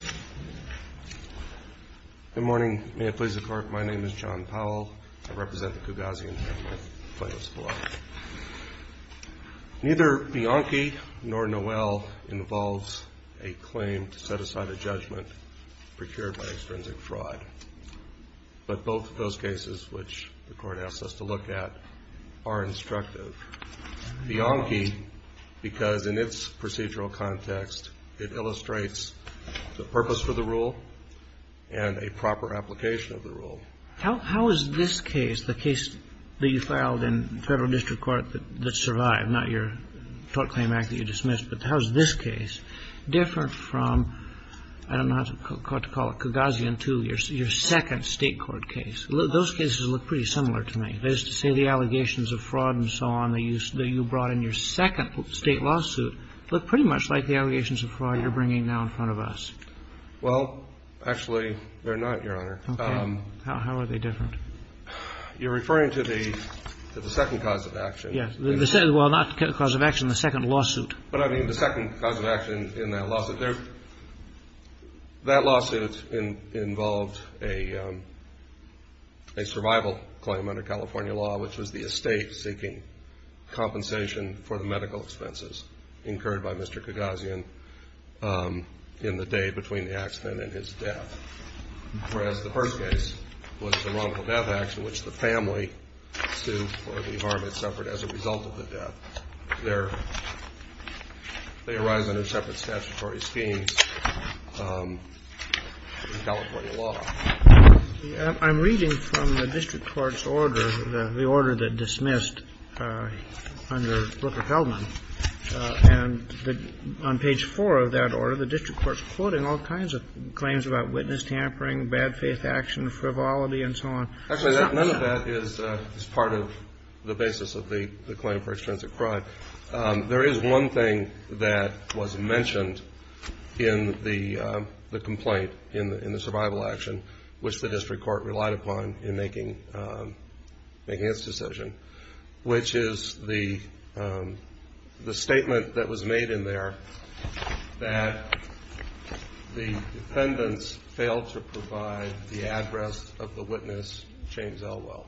Good morning. May it please the Court. My name is John Powell. I represent the Kougasian family of TMSL. Neither Bianchi nor Noel involves a claim to set aside a judgment procured by extrinsic fraud. But both of those cases, which the Court asked us to look at, are instructive. I refer to Bianchi because, in its procedural context, it illustrates the purpose for the rule and a proper application of the rule. How is this case, the case that you filed in federal district court that survived, not your tort claim act that you dismissed, but how is this case different from, I don't know how to call it, Kougasian II, your second state court case? Those cases look pretty similar to me. That is to say, the allegations of fraud and so on that you brought in your second state lawsuit look pretty much like the allegations of fraud you're bringing now in front of us. Well, actually, they're not, Your Honor. Okay. How are they different? You're referring to the second cause of action. Yes. Well, not cause of action, the second lawsuit. But I mean the second cause of action in that lawsuit. That lawsuit involved a survival claim under California law, which was the estate seeking compensation for the medical expenses incurred by Mr. Kougasian in the day between the accident and his death, whereas the first case was the wrongful death action, which the family sued for the harm it suffered as a result of the death. They arise under separate statutory schemes in California law. I'm reading from the district court's order, the order that dismissed under Brooker-Heldman, and on page 4 of that order, the district court's quoting all kinds of claims about witness tampering, bad faith action, frivolity, and so on. Actually, none of that is part of the basis of the claim for extrinsic crime. There is one thing that was mentioned in the complaint, in the survival action, which the district court relied upon in making its decision, which is the statement that was made in there that the defendants failed to provide the address of the witness, James Elwell.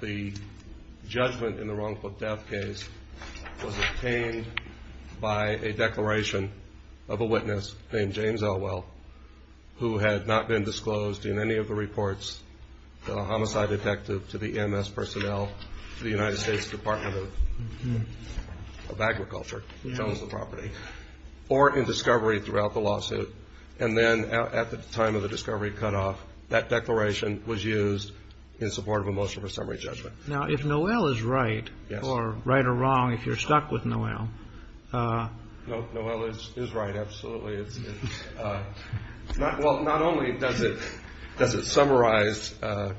The judgment in the wrongful death case was obtained by a declaration of a witness named James Elwell, who had not been disclosed in any of the reports to the homicide detective, to the MS personnel, to the United States Department of Agriculture, Jones' property, or in discovery throughout the lawsuit, and then at the time of the discovery cutoff, that declaration was used in support of a motion for summary judgment. Now, if Noel is right, or right or wrong, if you're stuck with Noel. Noel is right, absolutely. Well, not only does it summarize the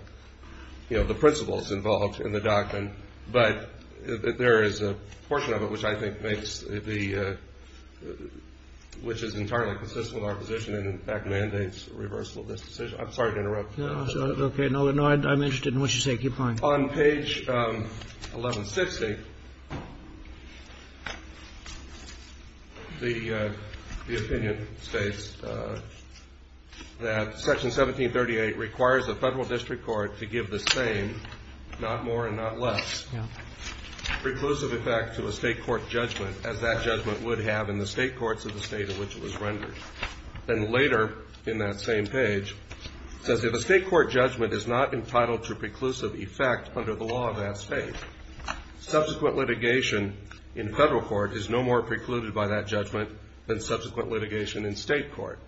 principles involved in the document, but there is a portion of it which I think makes the, which is entirely consistent with our position and in fact mandates reversal of this decision. I'm sorry to interrupt. No, it's okay. Noel, I'm interested in what you say. Keep going. On page 1160, the opinion states that Section 1738 requires the federal district court to give the same, not more and not less, preclusive effect to a state court judgment, as that judgment would have in the state courts of the state in which it was rendered. And later in that same page, it says, if a state court judgment is not entitled to preclusive effect under the law of that state, subsequent litigation in federal court is no more precluded by that judgment than subsequent litigation in state court.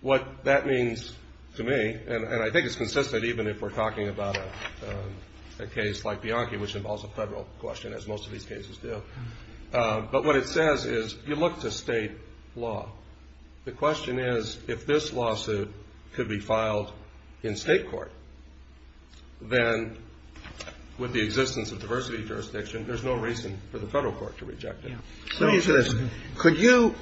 What that means to me, and I think it's consistent even if we're talking about a case like Bianchi, which involves a federal question, as most of these cases do, but what it says is you look to state law. The question is, if this lawsuit could be filed in state court, then with the existence of diversity jurisdiction, there's no reason for the federal court to reject it. So could you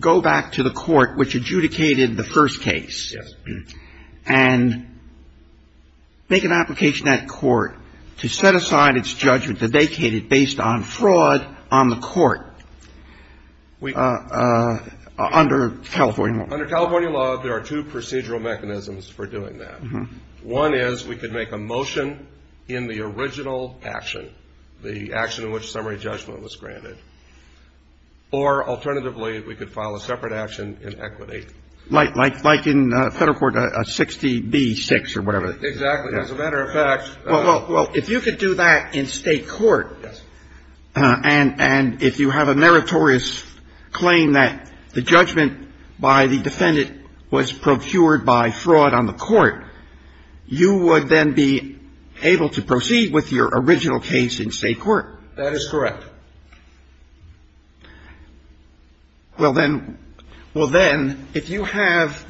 go back to the court which adjudicated the first case and make an application at court to set aside its judgment, the vacated, based on fraud on the court under California law? Under California law, there are two procedural mechanisms for doing that. One is we could make a motion in the original action, the action in which summary judgment was granted. Or alternatively, we could file a separate action in equity. Like in federal court 60B-6 or whatever. Exactly. As a matter of fact. Well, if you could do that in state court, and if you have a meritorious claim that the judgment by the defendant was procured by fraud on the court, you would then be able to proceed with your original case in state court. That is correct. Well, then, if you have,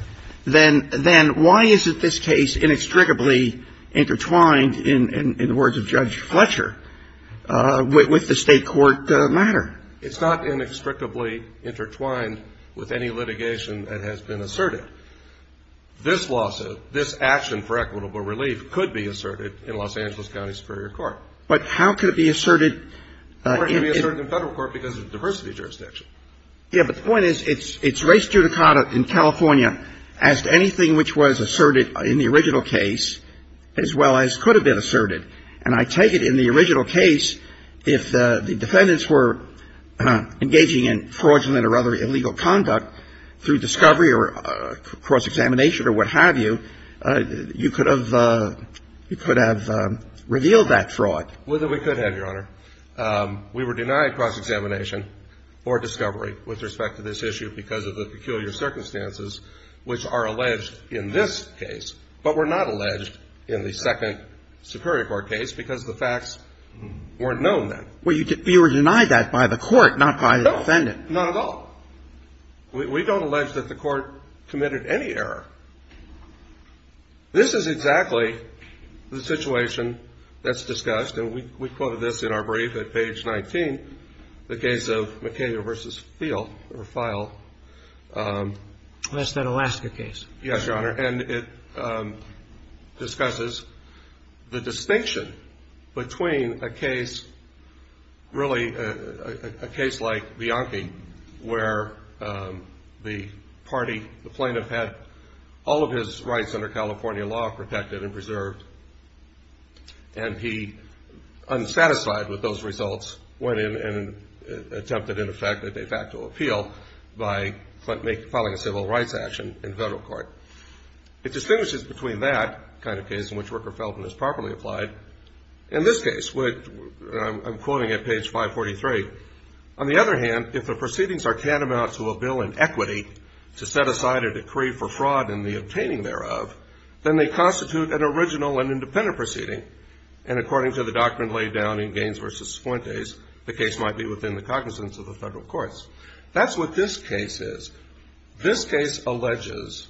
then why isn't this case inextricably intertwined, in the words of Judge Fletcher, with the state court matter? It's not inextricably intertwined with any litigation that has been asserted. This lawsuit, this action for equitable relief could be asserted in Los Angeles County Superior Court. But how could it be asserted? It could be asserted in federal court because of the diversity of jurisdiction. Yes, but the point is, it's race judicata in California as to anything which was asserted in the original case as well as could have been asserted. And I take it in the original case, if the defendants were engaging in fraudulent or other illegal conduct through discovery or cross-examination or what have you, you could have revealed that fraud. Whether we could have, Your Honor. We were denied cross-examination or discovery with respect to this issue because of the peculiar circumstances which are alleged in this case, but were not alleged in the second Superior Court case because the facts weren't known then. Well, you were denied that by the court, not by the defendant. Not at all. We don't allege that the court committed any error. This is exactly the situation that's discussed, and we quoted this in our brief at page 19, the case of McKenna v. Field or File. That's that Alaska case. Yes, Your Honor. And it discusses the distinction between a case, really a case like Bianchi where the party, the plaintiff had all of his rights under California law protected and preserved, and he, unsatisfied with those results, went in and attempted, in effect, a de facto appeal by filing a civil rights action in federal court. It distinguishes between that kind of case in which Rooker-Feldman is properly applied in this case, which I'm quoting at page 543. On the other hand, if the proceedings are tantamount to a bill in equity to set aside a decree for fraud in the obtaining thereof, then they constitute an original and independent proceeding, and according to the doctrine laid down in Gaines v. Fuentes, the case might be within the cognizance of the federal courts. That's what this case is. This case alleges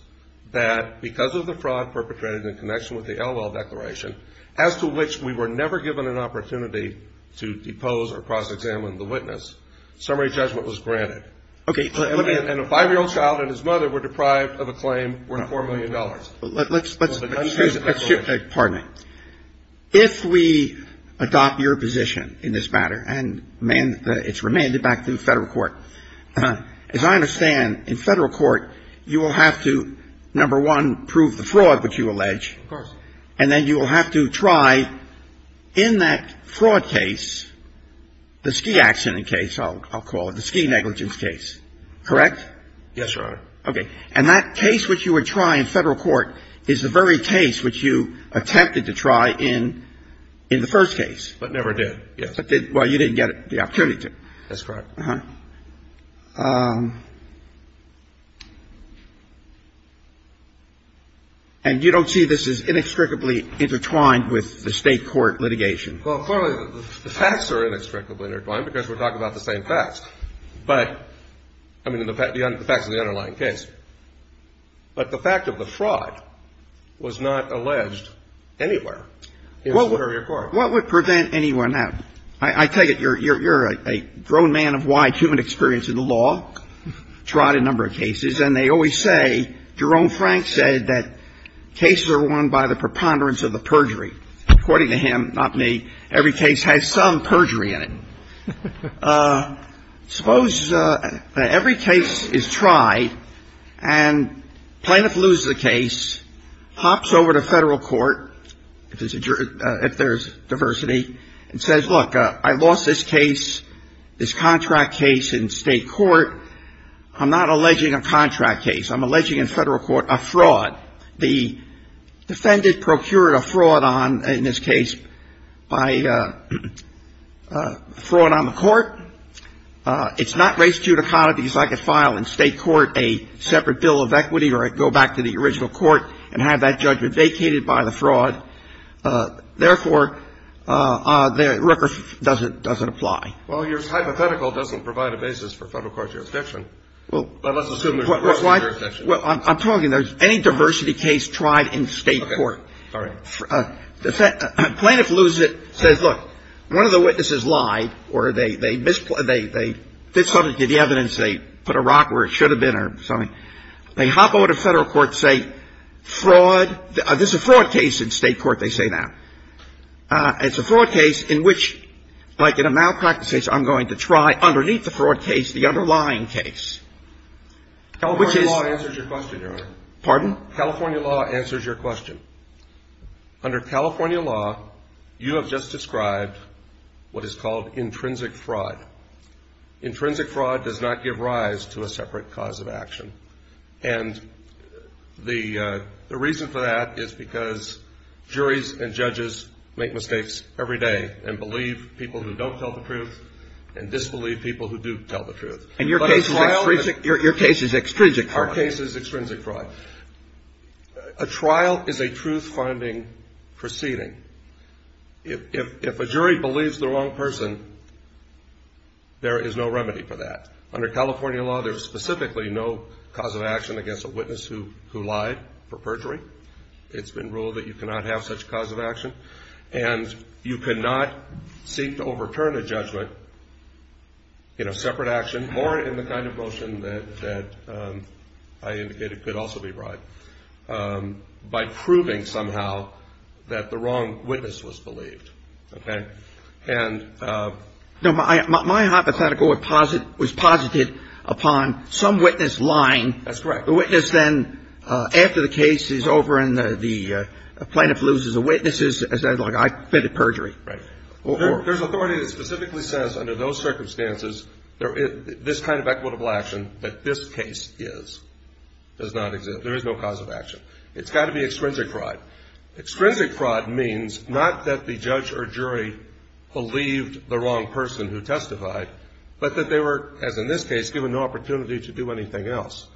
that because of the fraud perpetrated in connection with the Elwell Declaration, as to which we were never given an opportunity to depose or cross-examine the witness, summary judgment was granted. Okay. And a 5-year-old child and his mother were deprived of a claim worth $4 million. Let's see. Pardon me. If we adopt your position in this matter, and it's remanded back to the federal court, as I understand, in federal court, you will have to, number one, prove the fraud which you allege. Of course. And then you will have to try in that fraud case, the ski accident case, I'll call it, the ski negligence case. Correct? Yes, Your Honor. Okay. And that case which you would try in federal court is the very case which you attempted to try in the first case. But never did, yes. Well, you didn't get the opportunity to. That's correct. Uh-huh. And you don't see this as inextricably intertwined with the State court litigation? Well, clearly, the facts are inextricably intertwined because we're talking about the same facts. But, I mean, the facts of the underlying case. But the fact of the fraud was not alleged anywhere in the Superior Court. What would prevent anyone now? I tell you, you're a grown man of wide human experience in the law, tried a number of cases, and they always say, Jerome Frank said that cases are won by the preponderance of the perjury. According to him, not me, every case has some perjury in it. Suppose every case is tried and plaintiff loses a case, hops over to federal court, if there's diversity, and says, look, I lost this case, this contract case in State court. I'm not alleging a contract case. I'm alleging in federal court a fraud. The defendant procured a fraud on, in this case, by fraud on the court. It's not race-judicata because I could file in State court a separate bill of equity or go back to the original court and have that judgment vacated by the fraud. Therefore, the Rooker doesn't apply. Well, your hypothetical doesn't provide a basis for federal court jurisdiction. But let's assume there's diversity in your jurisdiction. Well, I'm talking there's any diversity case tried in State court. Okay. All right. Plaintiff loses it, says, look, one of the witnesses lied, or they misplaced the evidence, they put a rock where it should have been or something. They hop over to federal court, say, fraud, this is a fraud case in State court, they say that. It's a fraud case in which, like in a malpractice case, I'm going to try underneath the fraud case the underlying case. California law answers your question, Your Honor. Pardon? California law answers your question. Under California law, you have just described what is called intrinsic fraud. Intrinsic fraud does not give rise to a separate cause of action. And the reason for that is because juries and judges make mistakes every day and believe people who don't tell the truth and disbelieve people who do tell the truth. And your case is extrinsic fraud. Our case is extrinsic fraud. A trial is a truth-finding proceeding. If a jury believes the wrong person, there is no remedy for that. Under California law, there is specifically no cause of action against a witness who lied for perjury. It's been ruled that you cannot have such cause of action. And you cannot seek to overturn a judgment, you know, separate action, or in the kind of motion that I indicated could also be brought, by proving somehow that the wrong witness was believed. Okay? And my hypothetical was posited upon some witness lying. That's correct. The witness then, after the case is over and the plaintiff loses, the witness is like, I fitted perjury. Right. There's authority that specifically says under those circumstances, this kind of equitable action that this case is, does not exist. There is no cause of action. It's got to be extrinsic fraud. Extrinsic fraud means not that the judge or jury believed the wrong person who testified, but that they were, as in this case, given no opportunity to do anything else.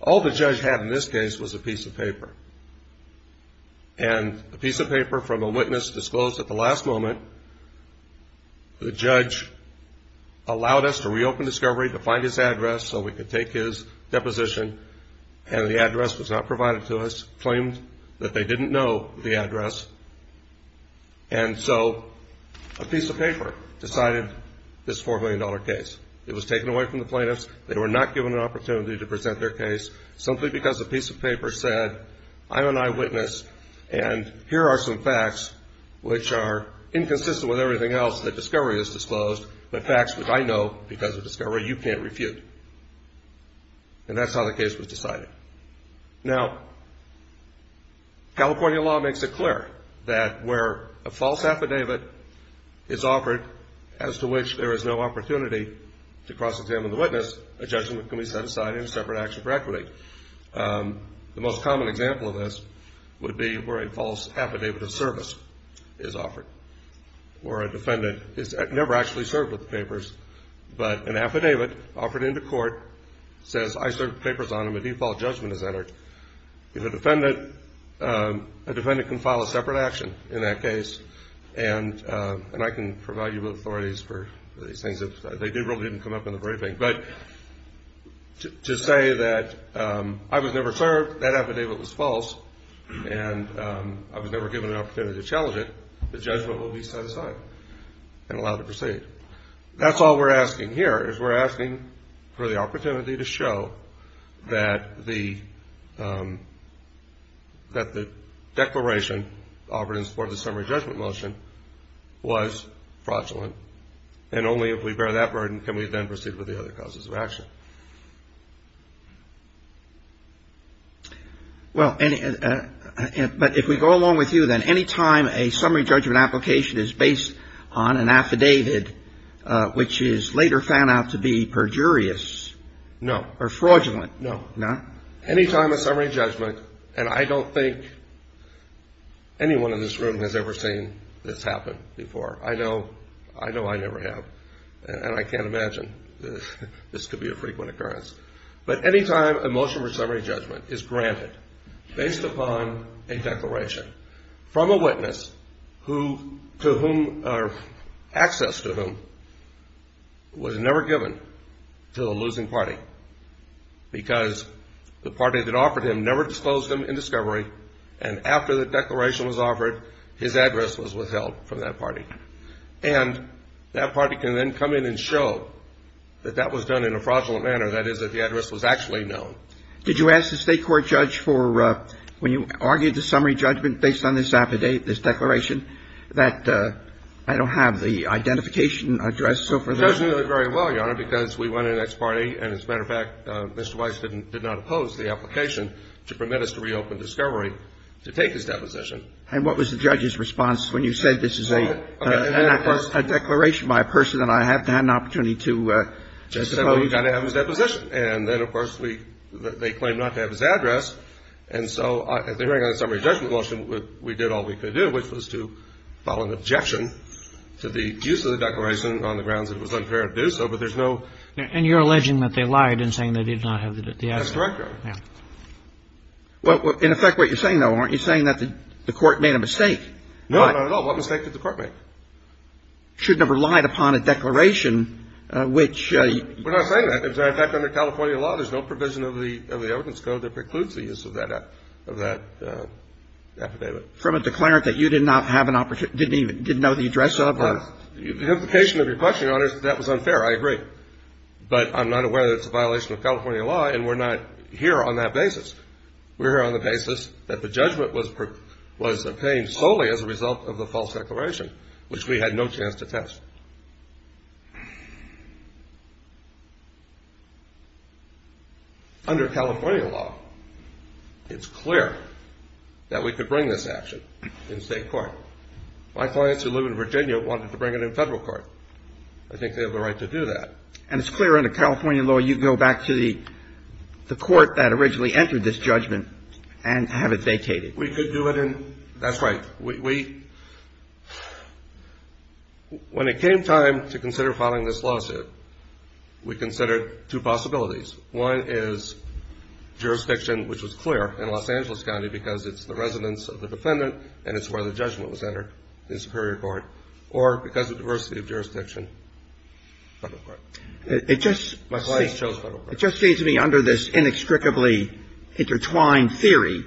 All the judge had in this case was a piece of paper. And a piece of paper from a witness disclosed at the last moment, the judge allowed us to reopen discovery, to find his address, so we could take his deposition, and the address was not provided to us, claimed that they didn't know the address. And so a piece of paper decided this $4 million case. It was taken away from the plaintiffs. They were not given an opportunity to present their case simply because a piece of paper said, I'm an eyewitness, and here are some facts which are inconsistent with everything else that discovery has disclosed, but facts which I know because of discovery you can't refute. And that's how the case was decided. Now, California law makes it clear that where a false affidavit is offered as to which there is no opportunity to cross-examine the witness, a judgment can be set aside in a separate action for equity. The most common example of this would be where a false affidavit of service is offered, where a defendant is never actually served with the papers, but an affidavit offered into court says, I served papers on them, a default judgment is entered. If a defendant can file a separate action in that case, and I can provide you with authorities for these things. They really didn't come up in the briefing. But to say that I was never served, that affidavit was false, and I was never given an opportunity to challenge it, the judgment will be set aside and allowed to proceed. That's all we're asking here is we're asking for the opportunity to show that the declaration offered in support of the summary judgment motion was fraudulent, and only if we bear that burden can we then proceed with the other causes of action. Well, but if we go along with you, then any time a summary judgment application is based on an affidavit, which is later found out to be perjurious or fraudulent. No. Any time a summary judgment, and I don't think anyone in this room has ever seen this happen before. I know I never have, and I can't imagine this could be a frequent occurrence. But any time a motion for summary judgment is granted based upon a declaration from a witness, access to whom was never given to the losing party because the party that offered him never disclosed him in discovery, and after the declaration was offered, his address was withheld from that party. And that party can then come in and show that that was done in a fraudulent manner, that is that the address was actually known. Did you ask the State court judge for, when you argued the summary judgment based on this affidavit, this declaration, that I don't have the identification address so for that? The judge knew it very well, Your Honor, because we went in as party, and as a matter of fact, Mr. Weiss did not oppose the application to permit us to reopen discovery to take his deposition. And what was the judge's response when you said this is a declaration by a person, and I haven't had an opportunity to tell you? He said, well, you've got to have his deposition. And then, of course, we – they claimed not to have his address. And so at the hearing on the summary judgment motion, we did all we could do, which was to file an objection to the use of the declaration on the grounds that it was unfair to do so. But there's no – And you're alleging that they lied in saying they did not have the address. That's correct, Your Honor. Well, in effect, what you're saying, though, aren't you saying that the court made a mistake? No, not at all. What mistake did the court make? Should have relied upon a declaration which – We're not saying that. In fact, under California law, there's no provision of the evidence code that precludes the use of that – of that affidavit. From a declarant that you did not have an – didn't even – didn't know the address of or – The implication of your question, Your Honor, is that that was unfair. I agree. But I'm not aware that it's a violation of California law, and we're not here on that basis. We're here on the basis that the judgment was obtained solely as a result of the false declaration, which we had no chance to test. Under California law, it's clear that we could bring this action in state court. My clients who live in Virginia wanted to bring it in federal court. I think they have the right to do that. And it's clear under California law you can go back to the court that originally entered this judgment and have it vacated. We could do it in – that's right. We – when it came time to consider filing this lawsuit, we considered two possibilities. One is jurisdiction, which was clear in Los Angeles County because it's the residence of the defendant and it's where the judgment was entered in superior court. Or because of diversity of jurisdiction, federal court. It just seems to me under this inextricably intertwined theory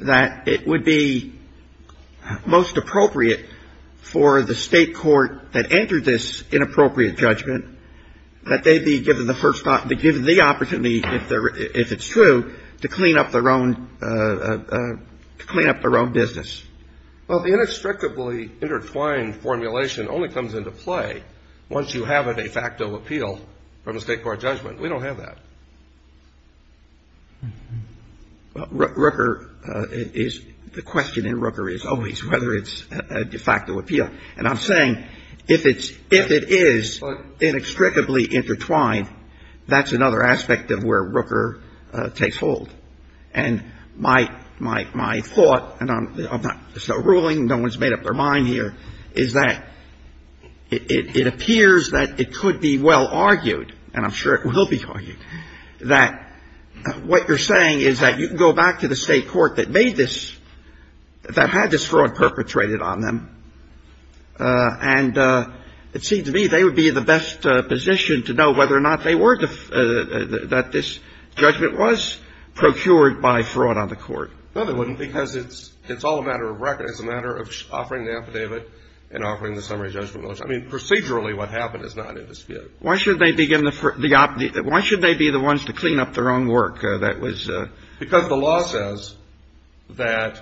that it would be most appropriate for the state court that entered this inappropriate judgment that they be given the first – given the opportunity, if it's true, to clean up their own – to clean up their own business. Well, the inextricably intertwined formulation only comes into play once you have a de facto appeal from a state court judgment. We don't have that. Rooker is – the question in Rooker is always whether it's a de facto appeal. And I'm saying if it's – if it is inextricably intertwined, that's another aspect of where Rooker takes hold. And my – my thought, and I'm not – it's not a ruling. No one's made up their mind here, is that it appears that it could be well argued, and I'm sure it will be argued, that what you're saying is that you can go back to the state court that made this – that had this fraud perpetrated on them, and it seems to me they would be in the best position to know whether or not they were – that this judgment was procured by fraud on the court. No, they wouldn't, because it's all a matter of record. It's a matter of offering the affidavit and offering the summary judgment motion. I mean, procedurally, what happened is not in dispute. Why should they be given the – why should they be the ones to clean up their own work? Because the law says that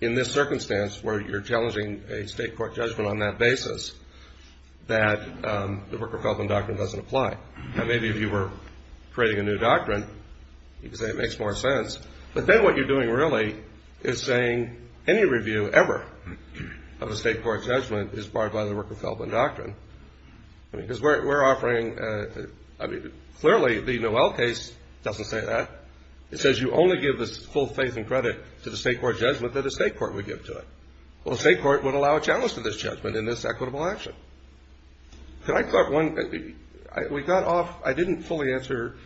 in this circumstance where you're challenging a state court judgment on that basis, that the Rooker-Feldman Doctrine doesn't apply. Now, maybe if you were creating a new doctrine, you could say it makes more sense, but then what you're doing really is saying any review ever of a state court judgment is barred by the Rooker-Feldman Doctrine. I mean, because we're offering – I mean, clearly, the Noel case doesn't say that. It says you only give the full faith and credit to the state court judgment that a state court would give to it. Well, a state court would allow a challenge to this judgment in this equitable action. Could I – we got off – I didn't fully answer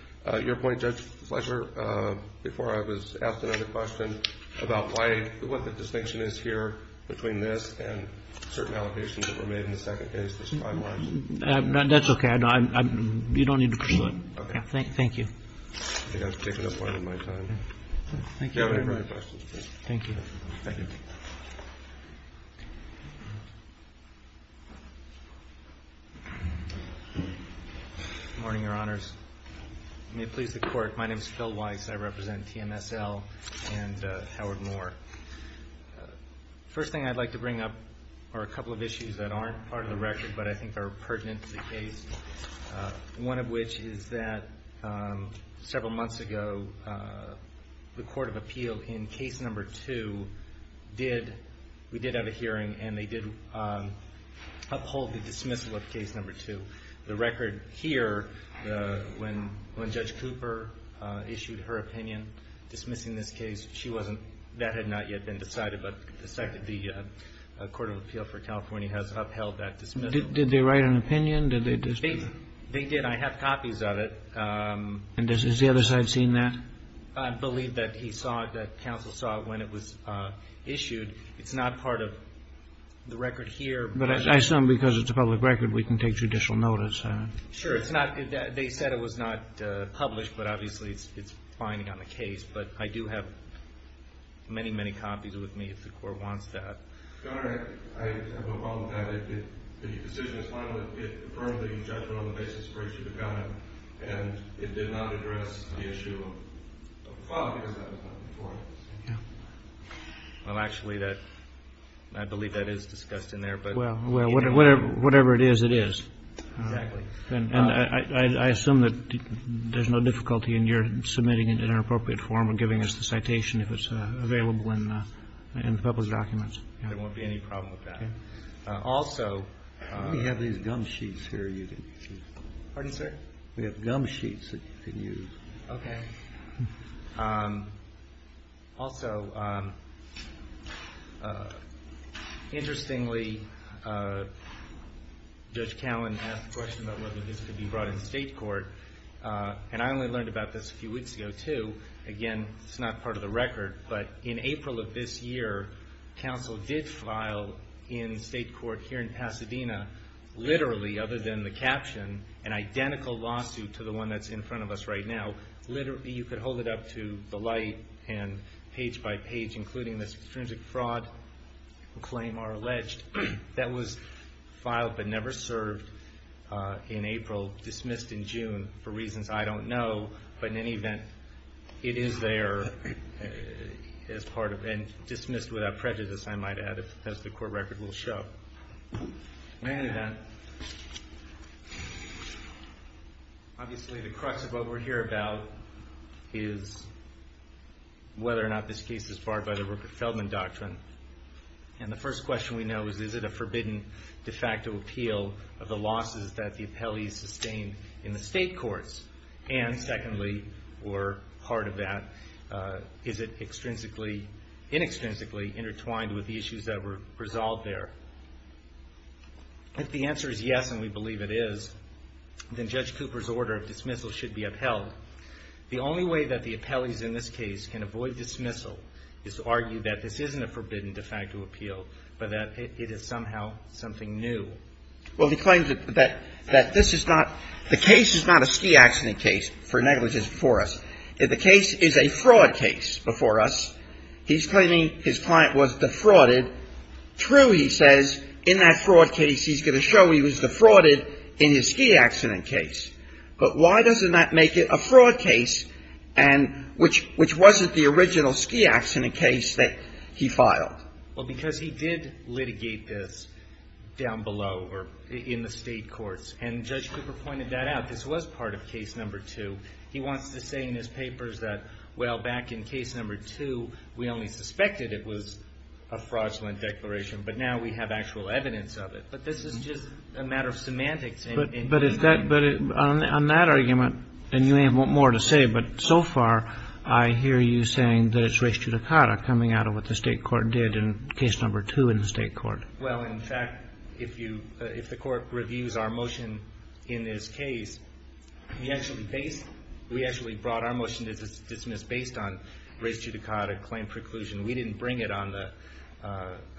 your point, Judge Fletcher, before I was asked another question about why – what the distinction is here between this and certain allegations that were made in the second case that's time-wise? That's okay. You don't need to pursue it. Okay. Thank you. I think I've taken up more than my time. Thank you very much. If you have any further questions, please. Thank you. Thank you. Good morning, Your Honors. May it please the Court, my name is Phil Weiss. I represent TMSL and Howard Moore. First thing I'd like to bring up are a couple of issues that aren't part of the record, but I think are pertinent to the case, one of which is that several months ago, the Court of Appeal in case number two did – we did have a hearing, and they did uphold the dismissal of case number two. The record here, when Judge Cooper issued her opinion dismissing this case, she wasn't – that had not yet been decided, but the Court of Appeal for California has upheld that dismissal. Did they write an opinion? They did. I have copies of it. And has the other side seen that? I believe that he saw it, that counsel saw it when it was issued. It's not part of the record here. But I assume because it's a public record, we can take judicial notice. Sure. It's not – they said it was not published, but obviously it's binding on the case. But I do have many, many copies with me if the Court wants that. Your Honor, I have a problem with that. The decision is final. It affirmed the judgment on the basis of a breach of the covenant, and it did not address the issue of the file because that was not before us. Yeah. Well, actually, that – I believe that is discussed in there. Well, whatever it is, it is. Exactly. And I assume that there's no difficulty in your submitting it in an appropriate form and giving us the citation if it's available in the published documents. There won't be any problem with that. Okay. Also – We have these gum sheets here you can use. Pardon, sir? We have gum sheets that you can use. Okay. Also, interestingly, Judge Callen asked a question about whether this could be brought in state court, and I only learned about this a few weeks ago, too. Again, it's not part of the record, but in April of this year, counsel did file in state court here in Pasadena, literally, other than the caption, an identical lawsuit to the one that's in front of us right now. Literally, you could hold it up to the light and page by page, including this extrinsic fraud claim or alleged that was filed but never served in April, dismissed in June for reasons I don't know. But in any event, it is there as part of – and dismissed without prejudice, I might add, as the court record will show. In any event, obviously the crux of what we're here about is whether or not this case is barred by the Rupert Feldman Doctrine. And the first question we know is, is it a forbidden de facto appeal of the losses that the appellees sustained in the state courts? And secondly, or part of that, is it extrinsically – inextrinsically intertwined with the issues that were resolved there? If the answer is yes, and we believe it is, then Judge Cooper's order of dismissal should be upheld. The only way that the appellees in this case can avoid dismissal is to argue that this isn't a forbidden de facto appeal, but that it is somehow something new. Well, the claim that this is not – the case is not a ski accident case for negligence before us. The case is a fraud case before us. He's claiming his client was defrauded. True, he says, in that fraud case he's going to show he was defrauded in his ski accident case. But why doesn't that make it a fraud case and – which wasn't the original ski accident case that he filed? Well, because he did litigate this down below or in the state courts. And Judge Cooper pointed that out. This was part of case number two. He wants to say in his papers that, well, back in case number two, we only suspected it was a fraudulent declaration, but now we have actual evidence of it. But this is just a matter of semantics. But on that argument, and you may want more to say, but so far I hear you saying that it's res judicata coming out of what the state court did in case number two in the state court. Well, in fact, if the Court reviews our motion in this case, we actually brought our motion to dismiss based on res judicata claim preclusion. We didn't bring it on the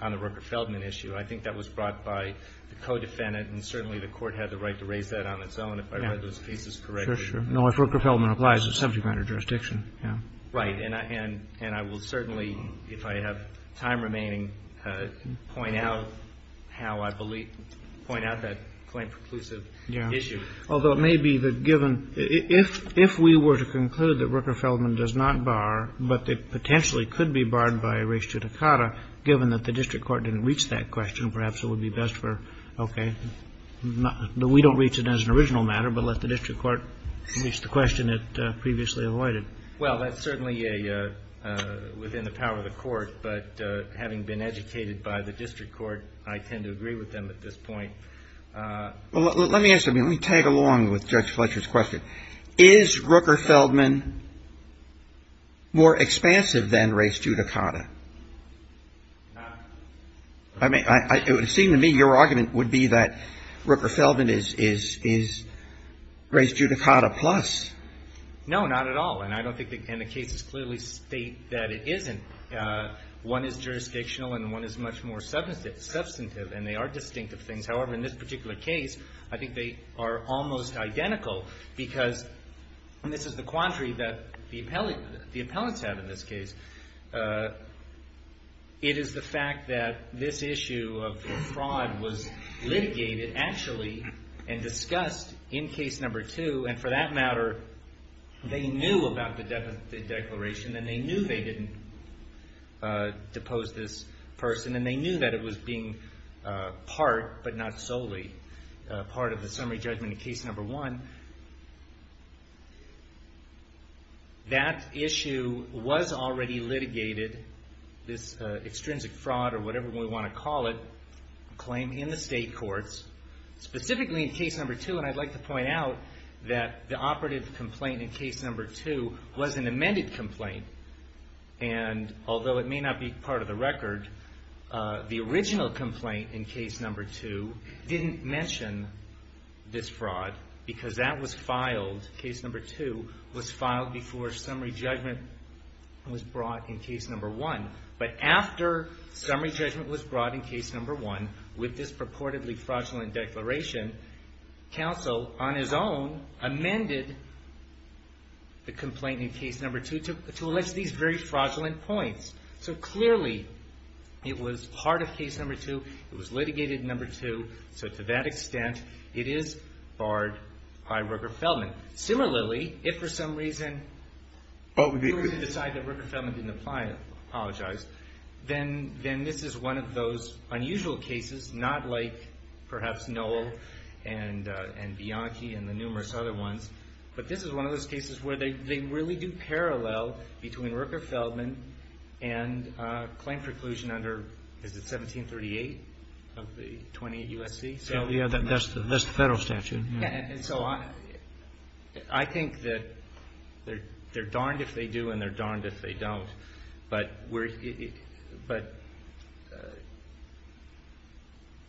Rooker-Feldman issue. I think that was brought by the co-defendant, and certainly the Court had the right to raise that on its own if I read those pieces correctly. Sure, sure. No, if Rooker-Feldman applies, it's subject matter jurisdiction. Right. And I will certainly, if I have time remaining, point out how I believe, point out that claim preclusive issue. Yeah. Although it may be that given, if we were to conclude that Rooker-Feldman does not bar, but it potentially could be barred by res judicata, given that the district court didn't reach that question, perhaps it would be best for, okay, we don't reach it as an original matter, but let the district court reach the question it previously avoided. Well, that's certainly within the power of the Court, but having been educated by the district court, I tend to agree with them at this point. Well, let me ask you, let me tag along with Judge Fletcher's question. Is Rooker-Feldman more expansive than res judicata? No. I mean, it would seem to me your argument would be that Rooker-Feldman is res judicata plus. No, not at all, and I don't think, and the cases clearly state that it isn't. One is jurisdictional and one is much more substantive, and they are distinctive things. However, in this particular case, I think they are almost identical because, and this is the quandary that the appellants have in this case, it is the fact that this issue of fraud was litigated actually and discussed in case number two, and for that matter, they knew about the death of the declaration and they knew they didn't depose this person and they knew that it was being part, but not solely, part of the summary judgment in case number one. That issue was already litigated, this extrinsic fraud or whatever we want to call it, claim in the state courts, specifically in case number two, and I'd like to point out that the operative complaint in case number two was an amended complaint, and although it may not be part of the record, the original complaint in case number two didn't mention this fraud because that was filed, case number two, was filed before summary judgment was brought in case number one, but after summary judgment was brought in case number one, with this purportedly fraudulent declaration, counsel, on his own, amended the complaint in case number two to allege these very fraudulent points. So clearly, it was part of case number two, it was litigated in number two, so to that extent, it is barred by Rooker-Feldman. Similarly, if for some reason we were to decide that Rooker-Feldman didn't apologize, then this is one of those unusual cases, not like perhaps Noel and Bianchi and the numerous other ones, but this is one of those cases where they really do parallel between Rooker-Feldman and claim preclusion under, is it 1738 of the 28 U.S.C.? That's the federal statute. And so I think that they're darned if they do and they're darned if they don't, but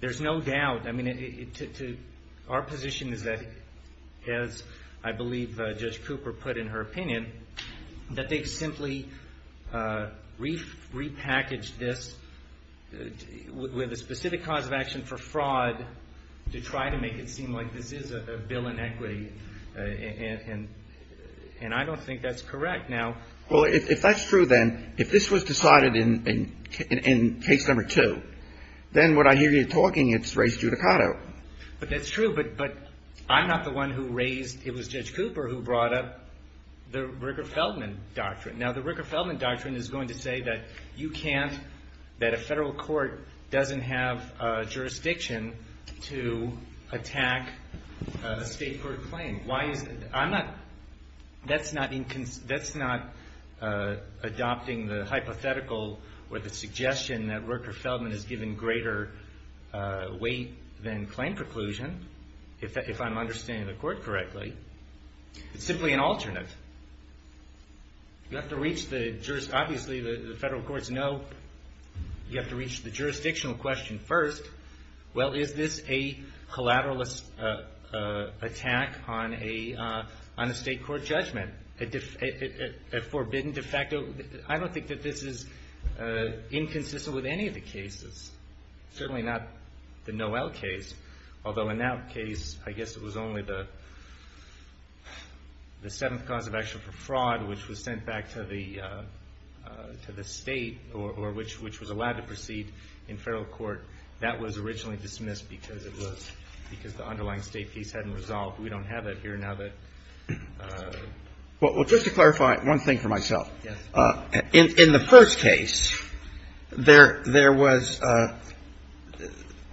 there's no doubt. I mean, our position is that, as I believe Judge Cooper put in her opinion, that they've simply repackaged this with a specific cause of action for fraud to try to make it seem like this is a bill in equity, and I don't think that's correct. Well, if that's true, then, if this was decided in case number two, then what I hear you talking, it's race judicato. But that's true, but I'm not the one who raised, it was Judge Cooper who brought up the Rooker-Feldman doctrine. Now, the Rooker-Feldman doctrine is going to say that you can't, that a federal court doesn't have jurisdiction to attack a state court claim. Why is, I'm not, that's not adopting the hypothetical or the suggestion that Rooker-Feldman has given greater weight than claim preclusion, if I'm understanding the court correctly. It's simply an alternate. You have to reach the, obviously the federal courts know you have to reach the jurisdictional question first. Well, is this a collateralist attack on a state court judgment? A forbidden de facto, I don't think that this is inconsistent with any of the cases. Certainly not the Noel case, although in that case, I guess it was only the seventh cause of action for fraud, which was sent back to the state or which was allowed to proceed in federal court. That was originally dismissed because it was, because the underlying state case hadn't resolved. We don't have that here now that. Well, just to clarify one thing for myself. Yes. In the first case, there was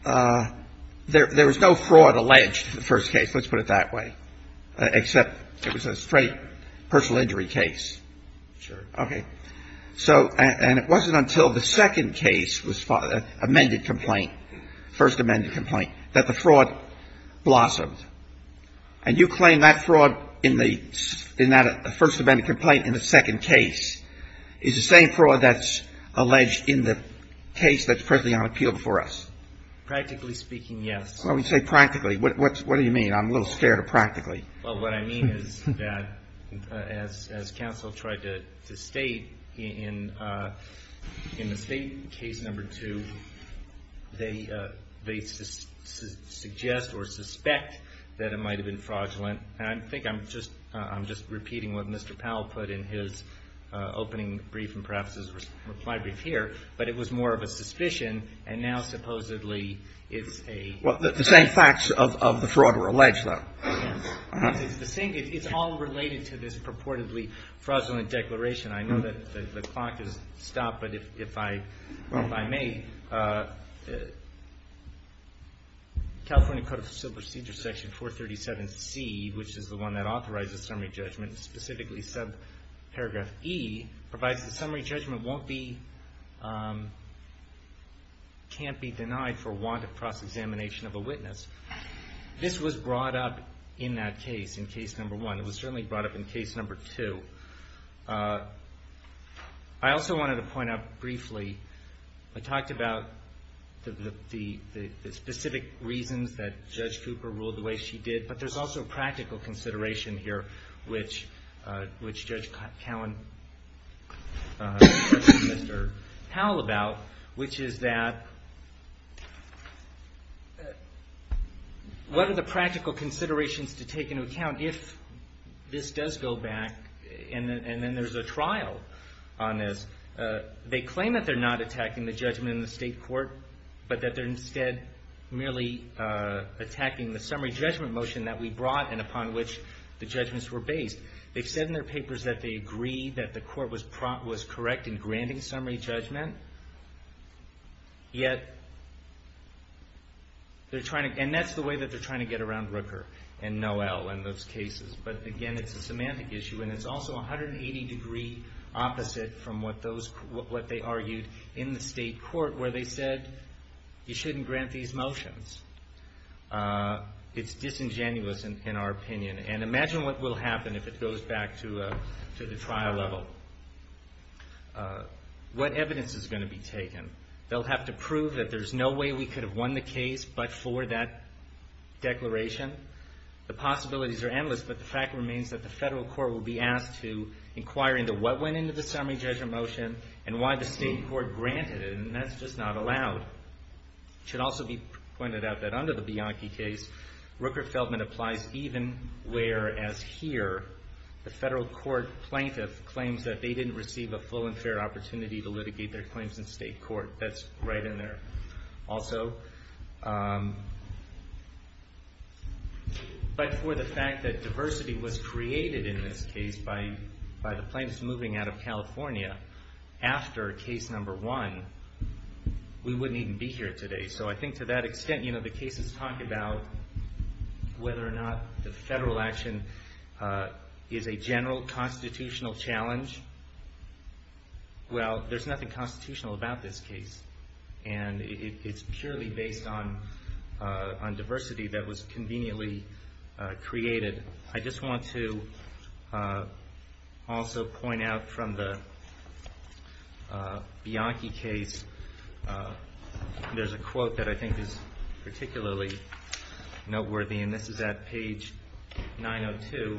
no fraud alleged in the first case, let's put it that way, except it was a straight personal injury case. Sure. Okay. So, and it wasn't until the second case was, amended complaint, first amended complaint, that the fraud blossomed. And you claim that fraud in the, in that first amended complaint in the second case is the same fraud that's alleged in the case that's presently on appeal before us? Practically speaking, yes. Well, when you say practically, what do you mean? I'm a little scared of practically. Well, what I mean is that as counsel tried to state in the state case number two, they suggest or suspect that it might have been fraudulent. And I think I'm just repeating what Mr. Powell put in his opening brief and perhaps his reply brief here. But it was more of a suspicion and now supposedly it's a. Well, the same facts of the fraud were alleged though. It's all related to this purportedly fraudulent declaration. I know that the clock has stopped, but if I may, California Code of Procedure Section 437C, which is the one that authorizes summary judgment, specifically subparagraph E, provides that summary judgment won't be, can't be denied for want of cross-examination of a witness. This was brought up in that case, in case number one. It was certainly brought up in case number two. I also wanted to point out briefly, I talked about the specific reasons that Judge Cooper ruled the way she did, but there's also practical consideration here, which Judge Cowen questioned Mr. Powell about, which is that what are the practical considerations to take into account if this does go back and then there's a trial on this. They claim that they're not attacking the judgment in the state court, but that they're instead merely attacking the summary judgment motion that we brought and upon which the judgments were based. They've said in their papers that they agree that the court was correct in granting summary judgment, yet they're trying to, and that's the way that they're trying to get around Rooker and Noel in those cases. But again, it's a semantic issue, and it's also 180 degree opposite from what those, what they argued in the state court where they said you shouldn't grant these motions. It's disingenuous in our opinion, and imagine what will happen if it goes back to the trial level. What evidence is going to be taken? They'll have to prove that there's no way we could have won the case but for that declaration. The possibilities are endless, but the fact remains that the federal court will be asked to inquire into what went into the summary judgment motion and why the state court granted it, and that's just not allowed. It should also be pointed out that under the Bianchi case, Rooker-Feldman applies even where as here, the federal court plaintiff claims that they didn't receive a full and fair opportunity to litigate their claims in state court. That's right in there also. But for the fact that diversity was created in this case by the plaintiffs moving out of California after case number one, we wouldn't even be here today. So I think to that extent, you know, the cases talk about whether or not the federal action is a general constitutional challenge. Well, there's nothing constitutional about this case, and it's purely based on diversity that was conveniently created. I just want to also point out from the Bianchi case, there's a quote that I think is particularly noteworthy, and this is at page 902.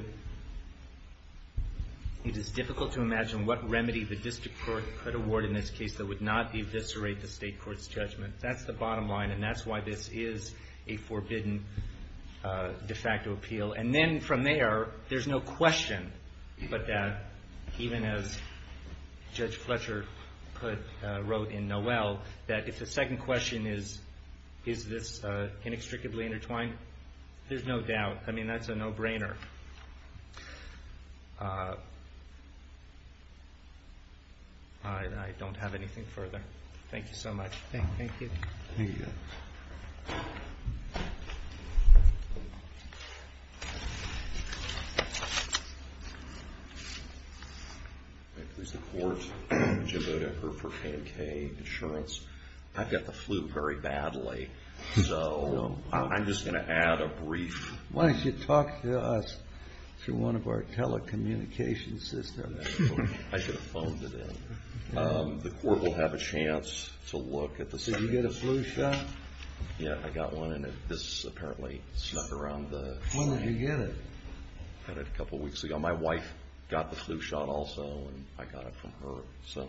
It is difficult to imagine what remedy the district court could award in this case that would not eviscerate the state court's judgment. That's the bottom line, and that's why this is a forbidden de facto appeal. And then from there, there's no question but that, even as Judge Fletcher wrote in Noel, that if the second question is, is this inextricably intertwined, there's no doubt. I mean, that's a no-brainer. I don't have anything further. Thank you so much. Thank you. Thank you. I please the court. Jim Bodecker for Pancake Insurance. I've got the flu very badly, so I'm just going to add a brief... Why don't you talk to us through one of our telecommunications systems? I should have phoned it in. The court will have a chance to look at the... Did you get a flu shot? Yeah, I got one, and this apparently snuck around the... When did you get it? I got it a couple of weeks ago. My wife got the flu shot also, and I got it from her, so...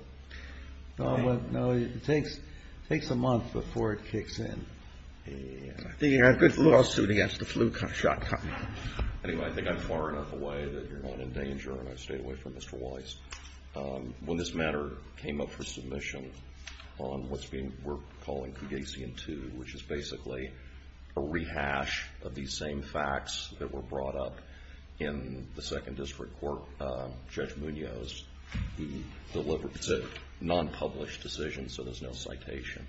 No, it takes a month before it kicks in. Good lawsuit against the flu shot. Anyway, I think I'm far enough away that you're not in danger, and I've stayed away from Mr. Weiss. When this matter came up for submission on what we're calling Cougasian 2, which is basically a rehash of these same facts that were brought up in the Second District Court, Judge Munoz, he delivered it. It's a non-published decision, so there's no citation,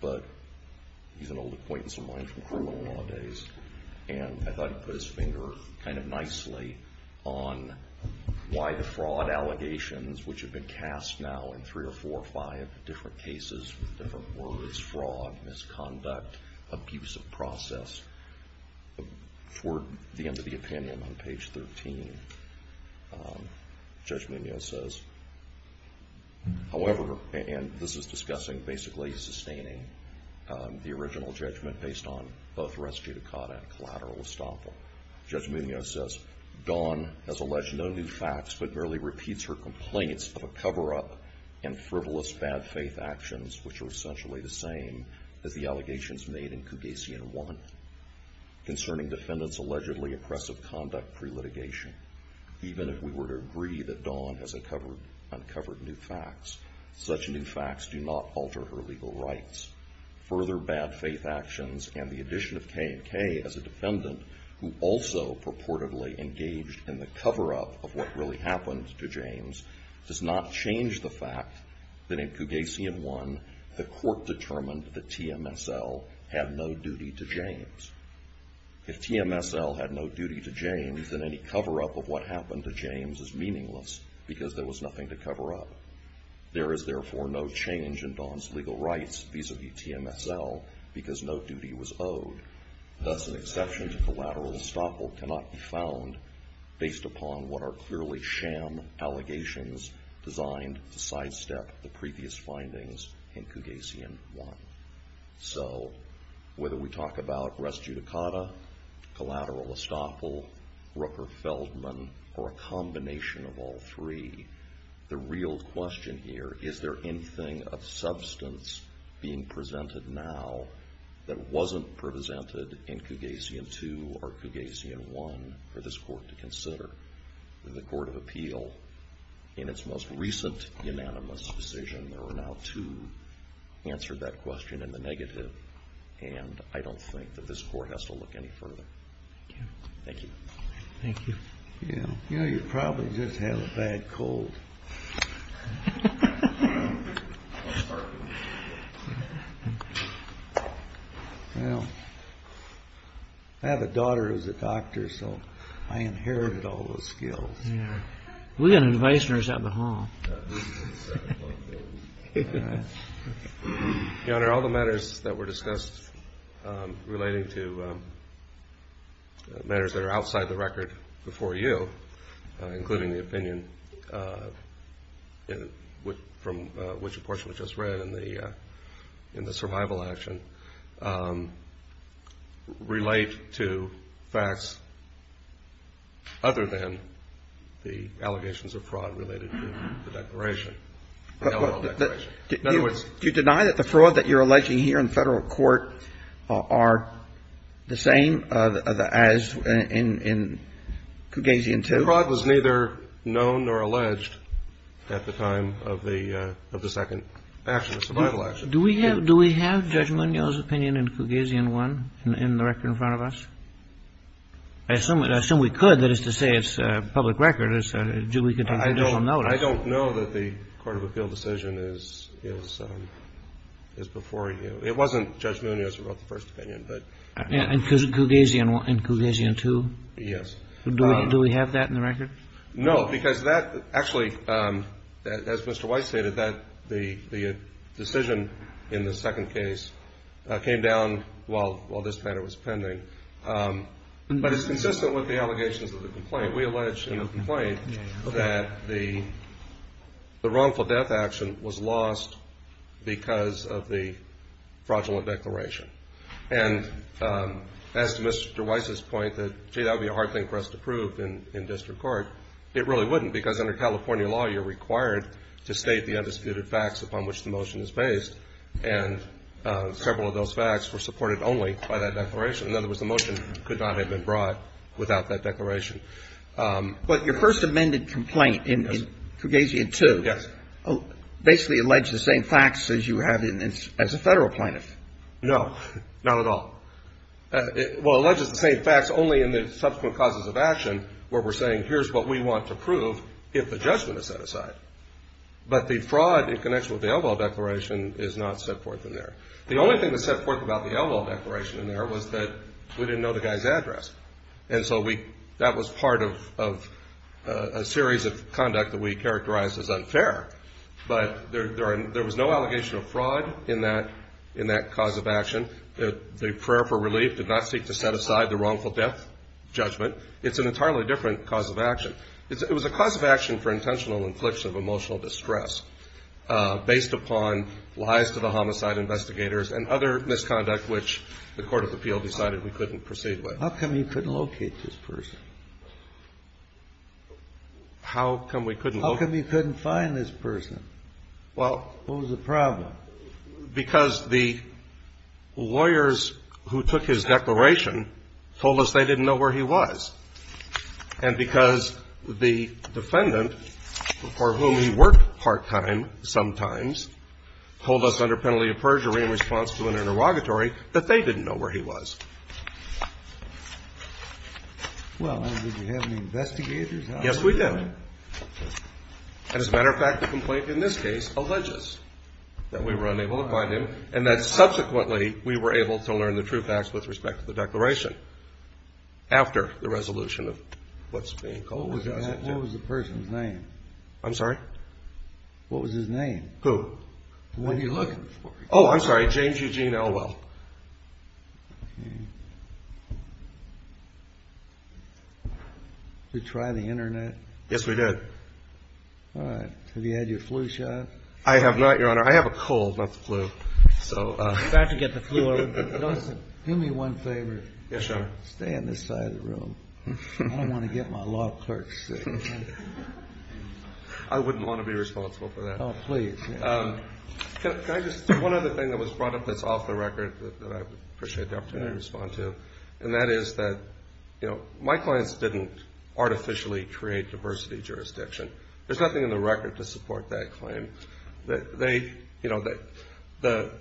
but he's an old acquaintance of mine from criminal law days, and I thought he put his finger kind of nicely on why the fraud allegations, which have been cast now in three or four or five different cases with different words, fraud, misconduct, abusive process, for the end of the opinion on page 13, Judge Munoz says, however, and this is discussing basically sustaining the original judgment based on both res judicata and collateral estoppel, Judge Munoz says, Don has alleged no new facts, but merely repeats her complaints of a cover-up and frivolous bad faith actions, which are essentially the same as the allegations made in Cougasian 1, concerning defendants' allegedly oppressive conduct pre-litigation. Even if we were to agree that Don has uncovered new facts, such new facts do not alter her legal rights. Further bad faith actions and the addition of K&K as a defendant, who also purportedly engaged in the cover-up of what really happened to James, does not change the fact that in Cougasian 1, the court determined that TMSL had no duty to James. If TMSL had no duty to James, then any cover-up of what happened to James is meaningless, because there was nothing to cover up. There is therefore no change in Don's legal rights, vis-a-vis TMSL, because no duty was owed. Thus an exception to collateral estoppel cannot be found, based upon what are clearly sham allegations designed to sidestep the previous findings in Cougasian 1. So whether we talk about res judicata, collateral estoppel, Rooker-Feldman, or a combination of all three, the real question here, is there anything of substance being presented now that wasn't presented in Cougasian 2 or Cougasian 1 for this Court to consider? The Court of Appeal, in its most recent unanimous decision, there were now two answered that question in the negative, and I don't think that this Court has to look any further. Thank you. Thank you. You know, you probably just have a bad cold. Well, I have a daughter who's a doctor, so I inherited all those skills. Yeah. We've got an advice nurse out in the hall. Yeah, there are all the matters that were discussed relating to matters that are outside the record before you, including the opinion from which a portion was just read in the survival action, relate to facts other than the allegations of fraud related to the declaration. In other words, do you deny that the fraud that you're alleging here in Federal Court are the same as in Cougasian 2? The fraud was neither known nor alleged at the time of the second action, the survival action. Do we have Judge Monial's opinion in Cougasian 1 in the record in front of us? I assume we could. That is to say, it's public record. I don't know. I know that the Court of Appeal decision is before you. It wasn't Judge Monial's who wrote the first opinion. And Cougasian 2? Yes. Do we have that in the record? No, because that actually, as Mr. Weiss stated, the decision in the second case came down while this matter was pending. But it's consistent with the allegations of the complaint. We allege in the complaint that the wrongful death action was lost because of the fraudulent declaration. And as to Mr. Weiss's point that, gee, that would be a hard thing for us to prove in district court, it really wouldn't because under California law you're required to state the undisputed facts upon which the motion is based. And several of those facts were supported only by that declaration. In other words, the motion could not have been brought without that declaration. But your first amended complaint in Cougasian 2? Yes. Basically alleged the same facts as you have as a federal plaintiff. No, not at all. Well, alleged the same facts only in the subsequent causes of action where we're saying here's what we want to prove if the judgment is set aside. But the fraud in connection with the Elval Declaration is not set forth in there. The only thing that's set forth about the Elval Declaration in there was that we didn't know the guy's address. And so that was part of a series of conduct that we characterized as unfair. But there was no allegation of fraud in that cause of action. The prayer for relief did not seek to set aside the wrongful death judgment. It's an entirely different cause of action. It was a cause of action for intentional infliction of emotional distress based upon lies to the homicide investigators and other misconduct which the court of appeal decided we couldn't proceed with. How come you couldn't locate this person? How come we couldn't locate him? How come you couldn't find this person? Well. What was the problem? Because the lawyers who took his declaration told us they didn't know where he was. And because the defendant, for whom he worked part-time sometimes, told us under penalty of perjury in response to an interrogatory that they didn't know where he was. Well, and did you have any investigators? Yes, we did. And as a matter of fact, the complaint in this case alleges that we were unable to find him and that subsequently we were able to learn the truth, actually, with respect to the declaration after the resolution of what's being called. What was the person's name? I'm sorry? What was his name? Who? What are you looking for? Oh, I'm sorry. James Eugene Elwell. Did you try the Internet? Yes, we did. All right. Have you had your flu shot? I have not, Your Honor. I have a cold, not the flu. So. I'm about to get the flu. Do me one favor. Yes, Your Honor. Stay on this side of the room. I don't want to get my law clerk sick. I wouldn't want to be responsible for that. Oh, please. Can I just say one other thing that was brought up that's off the record that I would appreciate the opportunity to respond to? And that is that, you know, my clients didn't artificially create diversity jurisdiction. There's nothing in the record to support that claim. They, you know, Mr.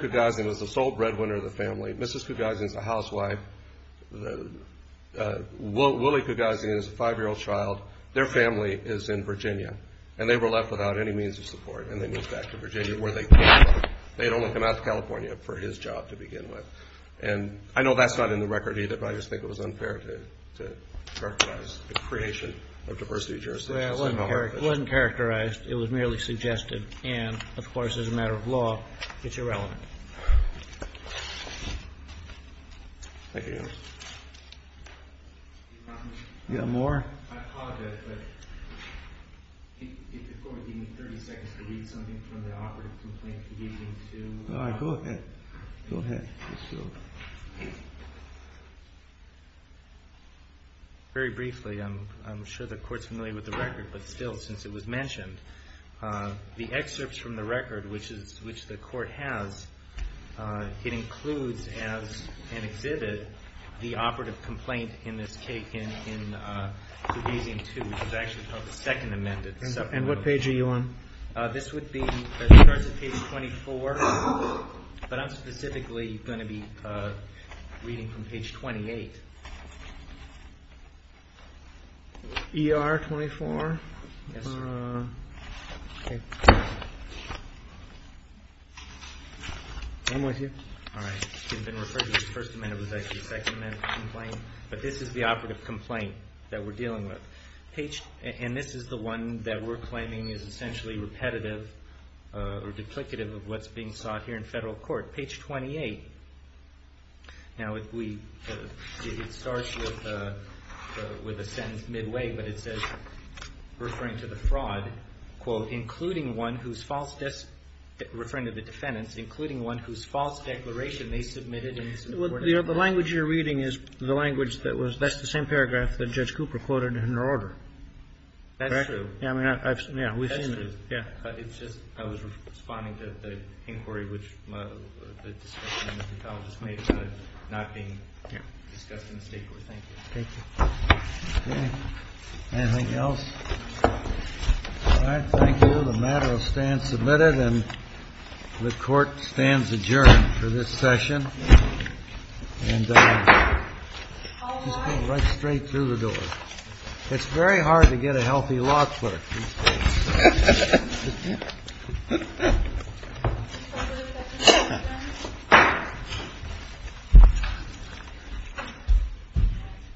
Kugazian was the sole breadwinner of the family. Mrs. Kugazian is a housewife. Willie Kugazian is a five-year-old child. Their family is in Virginia. And they were left without any means of support, and they moved back to Virginia where they came from. They had only come out to California for his job to begin with. And I know that's not in the record either, but I just think it was unfair to characterize the creation of diversity jurisdiction. It wasn't characterized. It was merely suggested. And, of course, as a matter of law, it's irrelevant. Thank you, Your Honor. Do you have more? I apologize, but if the Court would give me 30 seconds to read something from the operative complaint leading to- All right. Go ahead. Go ahead. Very briefly, I'm sure the Court's familiar with the record, but still, since it was mentioned, the excerpts from the record, which the Court has, it includes as an exhibit the operative complaint in this case, in Kugazian 2, which is actually called the Second Amendment. And what page are you on? This would be, it starts at page 24, but I'm specifically going to be reading from page 28. ER 24? Yes, sir. Okay. One more here. All right. It's been referred to as First Amendment. It was actually Second Amendment complaint. But this is the operative complaint that we're dealing with. And this is the one that we're claiming is essentially repetitive or duplicative of what's being sought here in federal court. Page 28. Now, if we, it starts with a sentence midway, but it says, referring to the fraud, quote, including one whose false, referring to the defendants, including one whose false declaration they submitted in support of- Well, the language you're reading is the language that was, that's the same paragraph that Judge Cooper quoted in her order. That's true. Yeah, I mean, we've seen it. That's true. Yeah. It's just, I was responding to the inquiry, which the discussion that the college has made about it not being discussed in the state court. Thank you. Thank you. Okay. Anything else? All right. Thank you. The matter will stand submitted, and the court stands adjourned for this session. And just go right straight through the door. It's very hard to get a healthy law clerk. Thank you.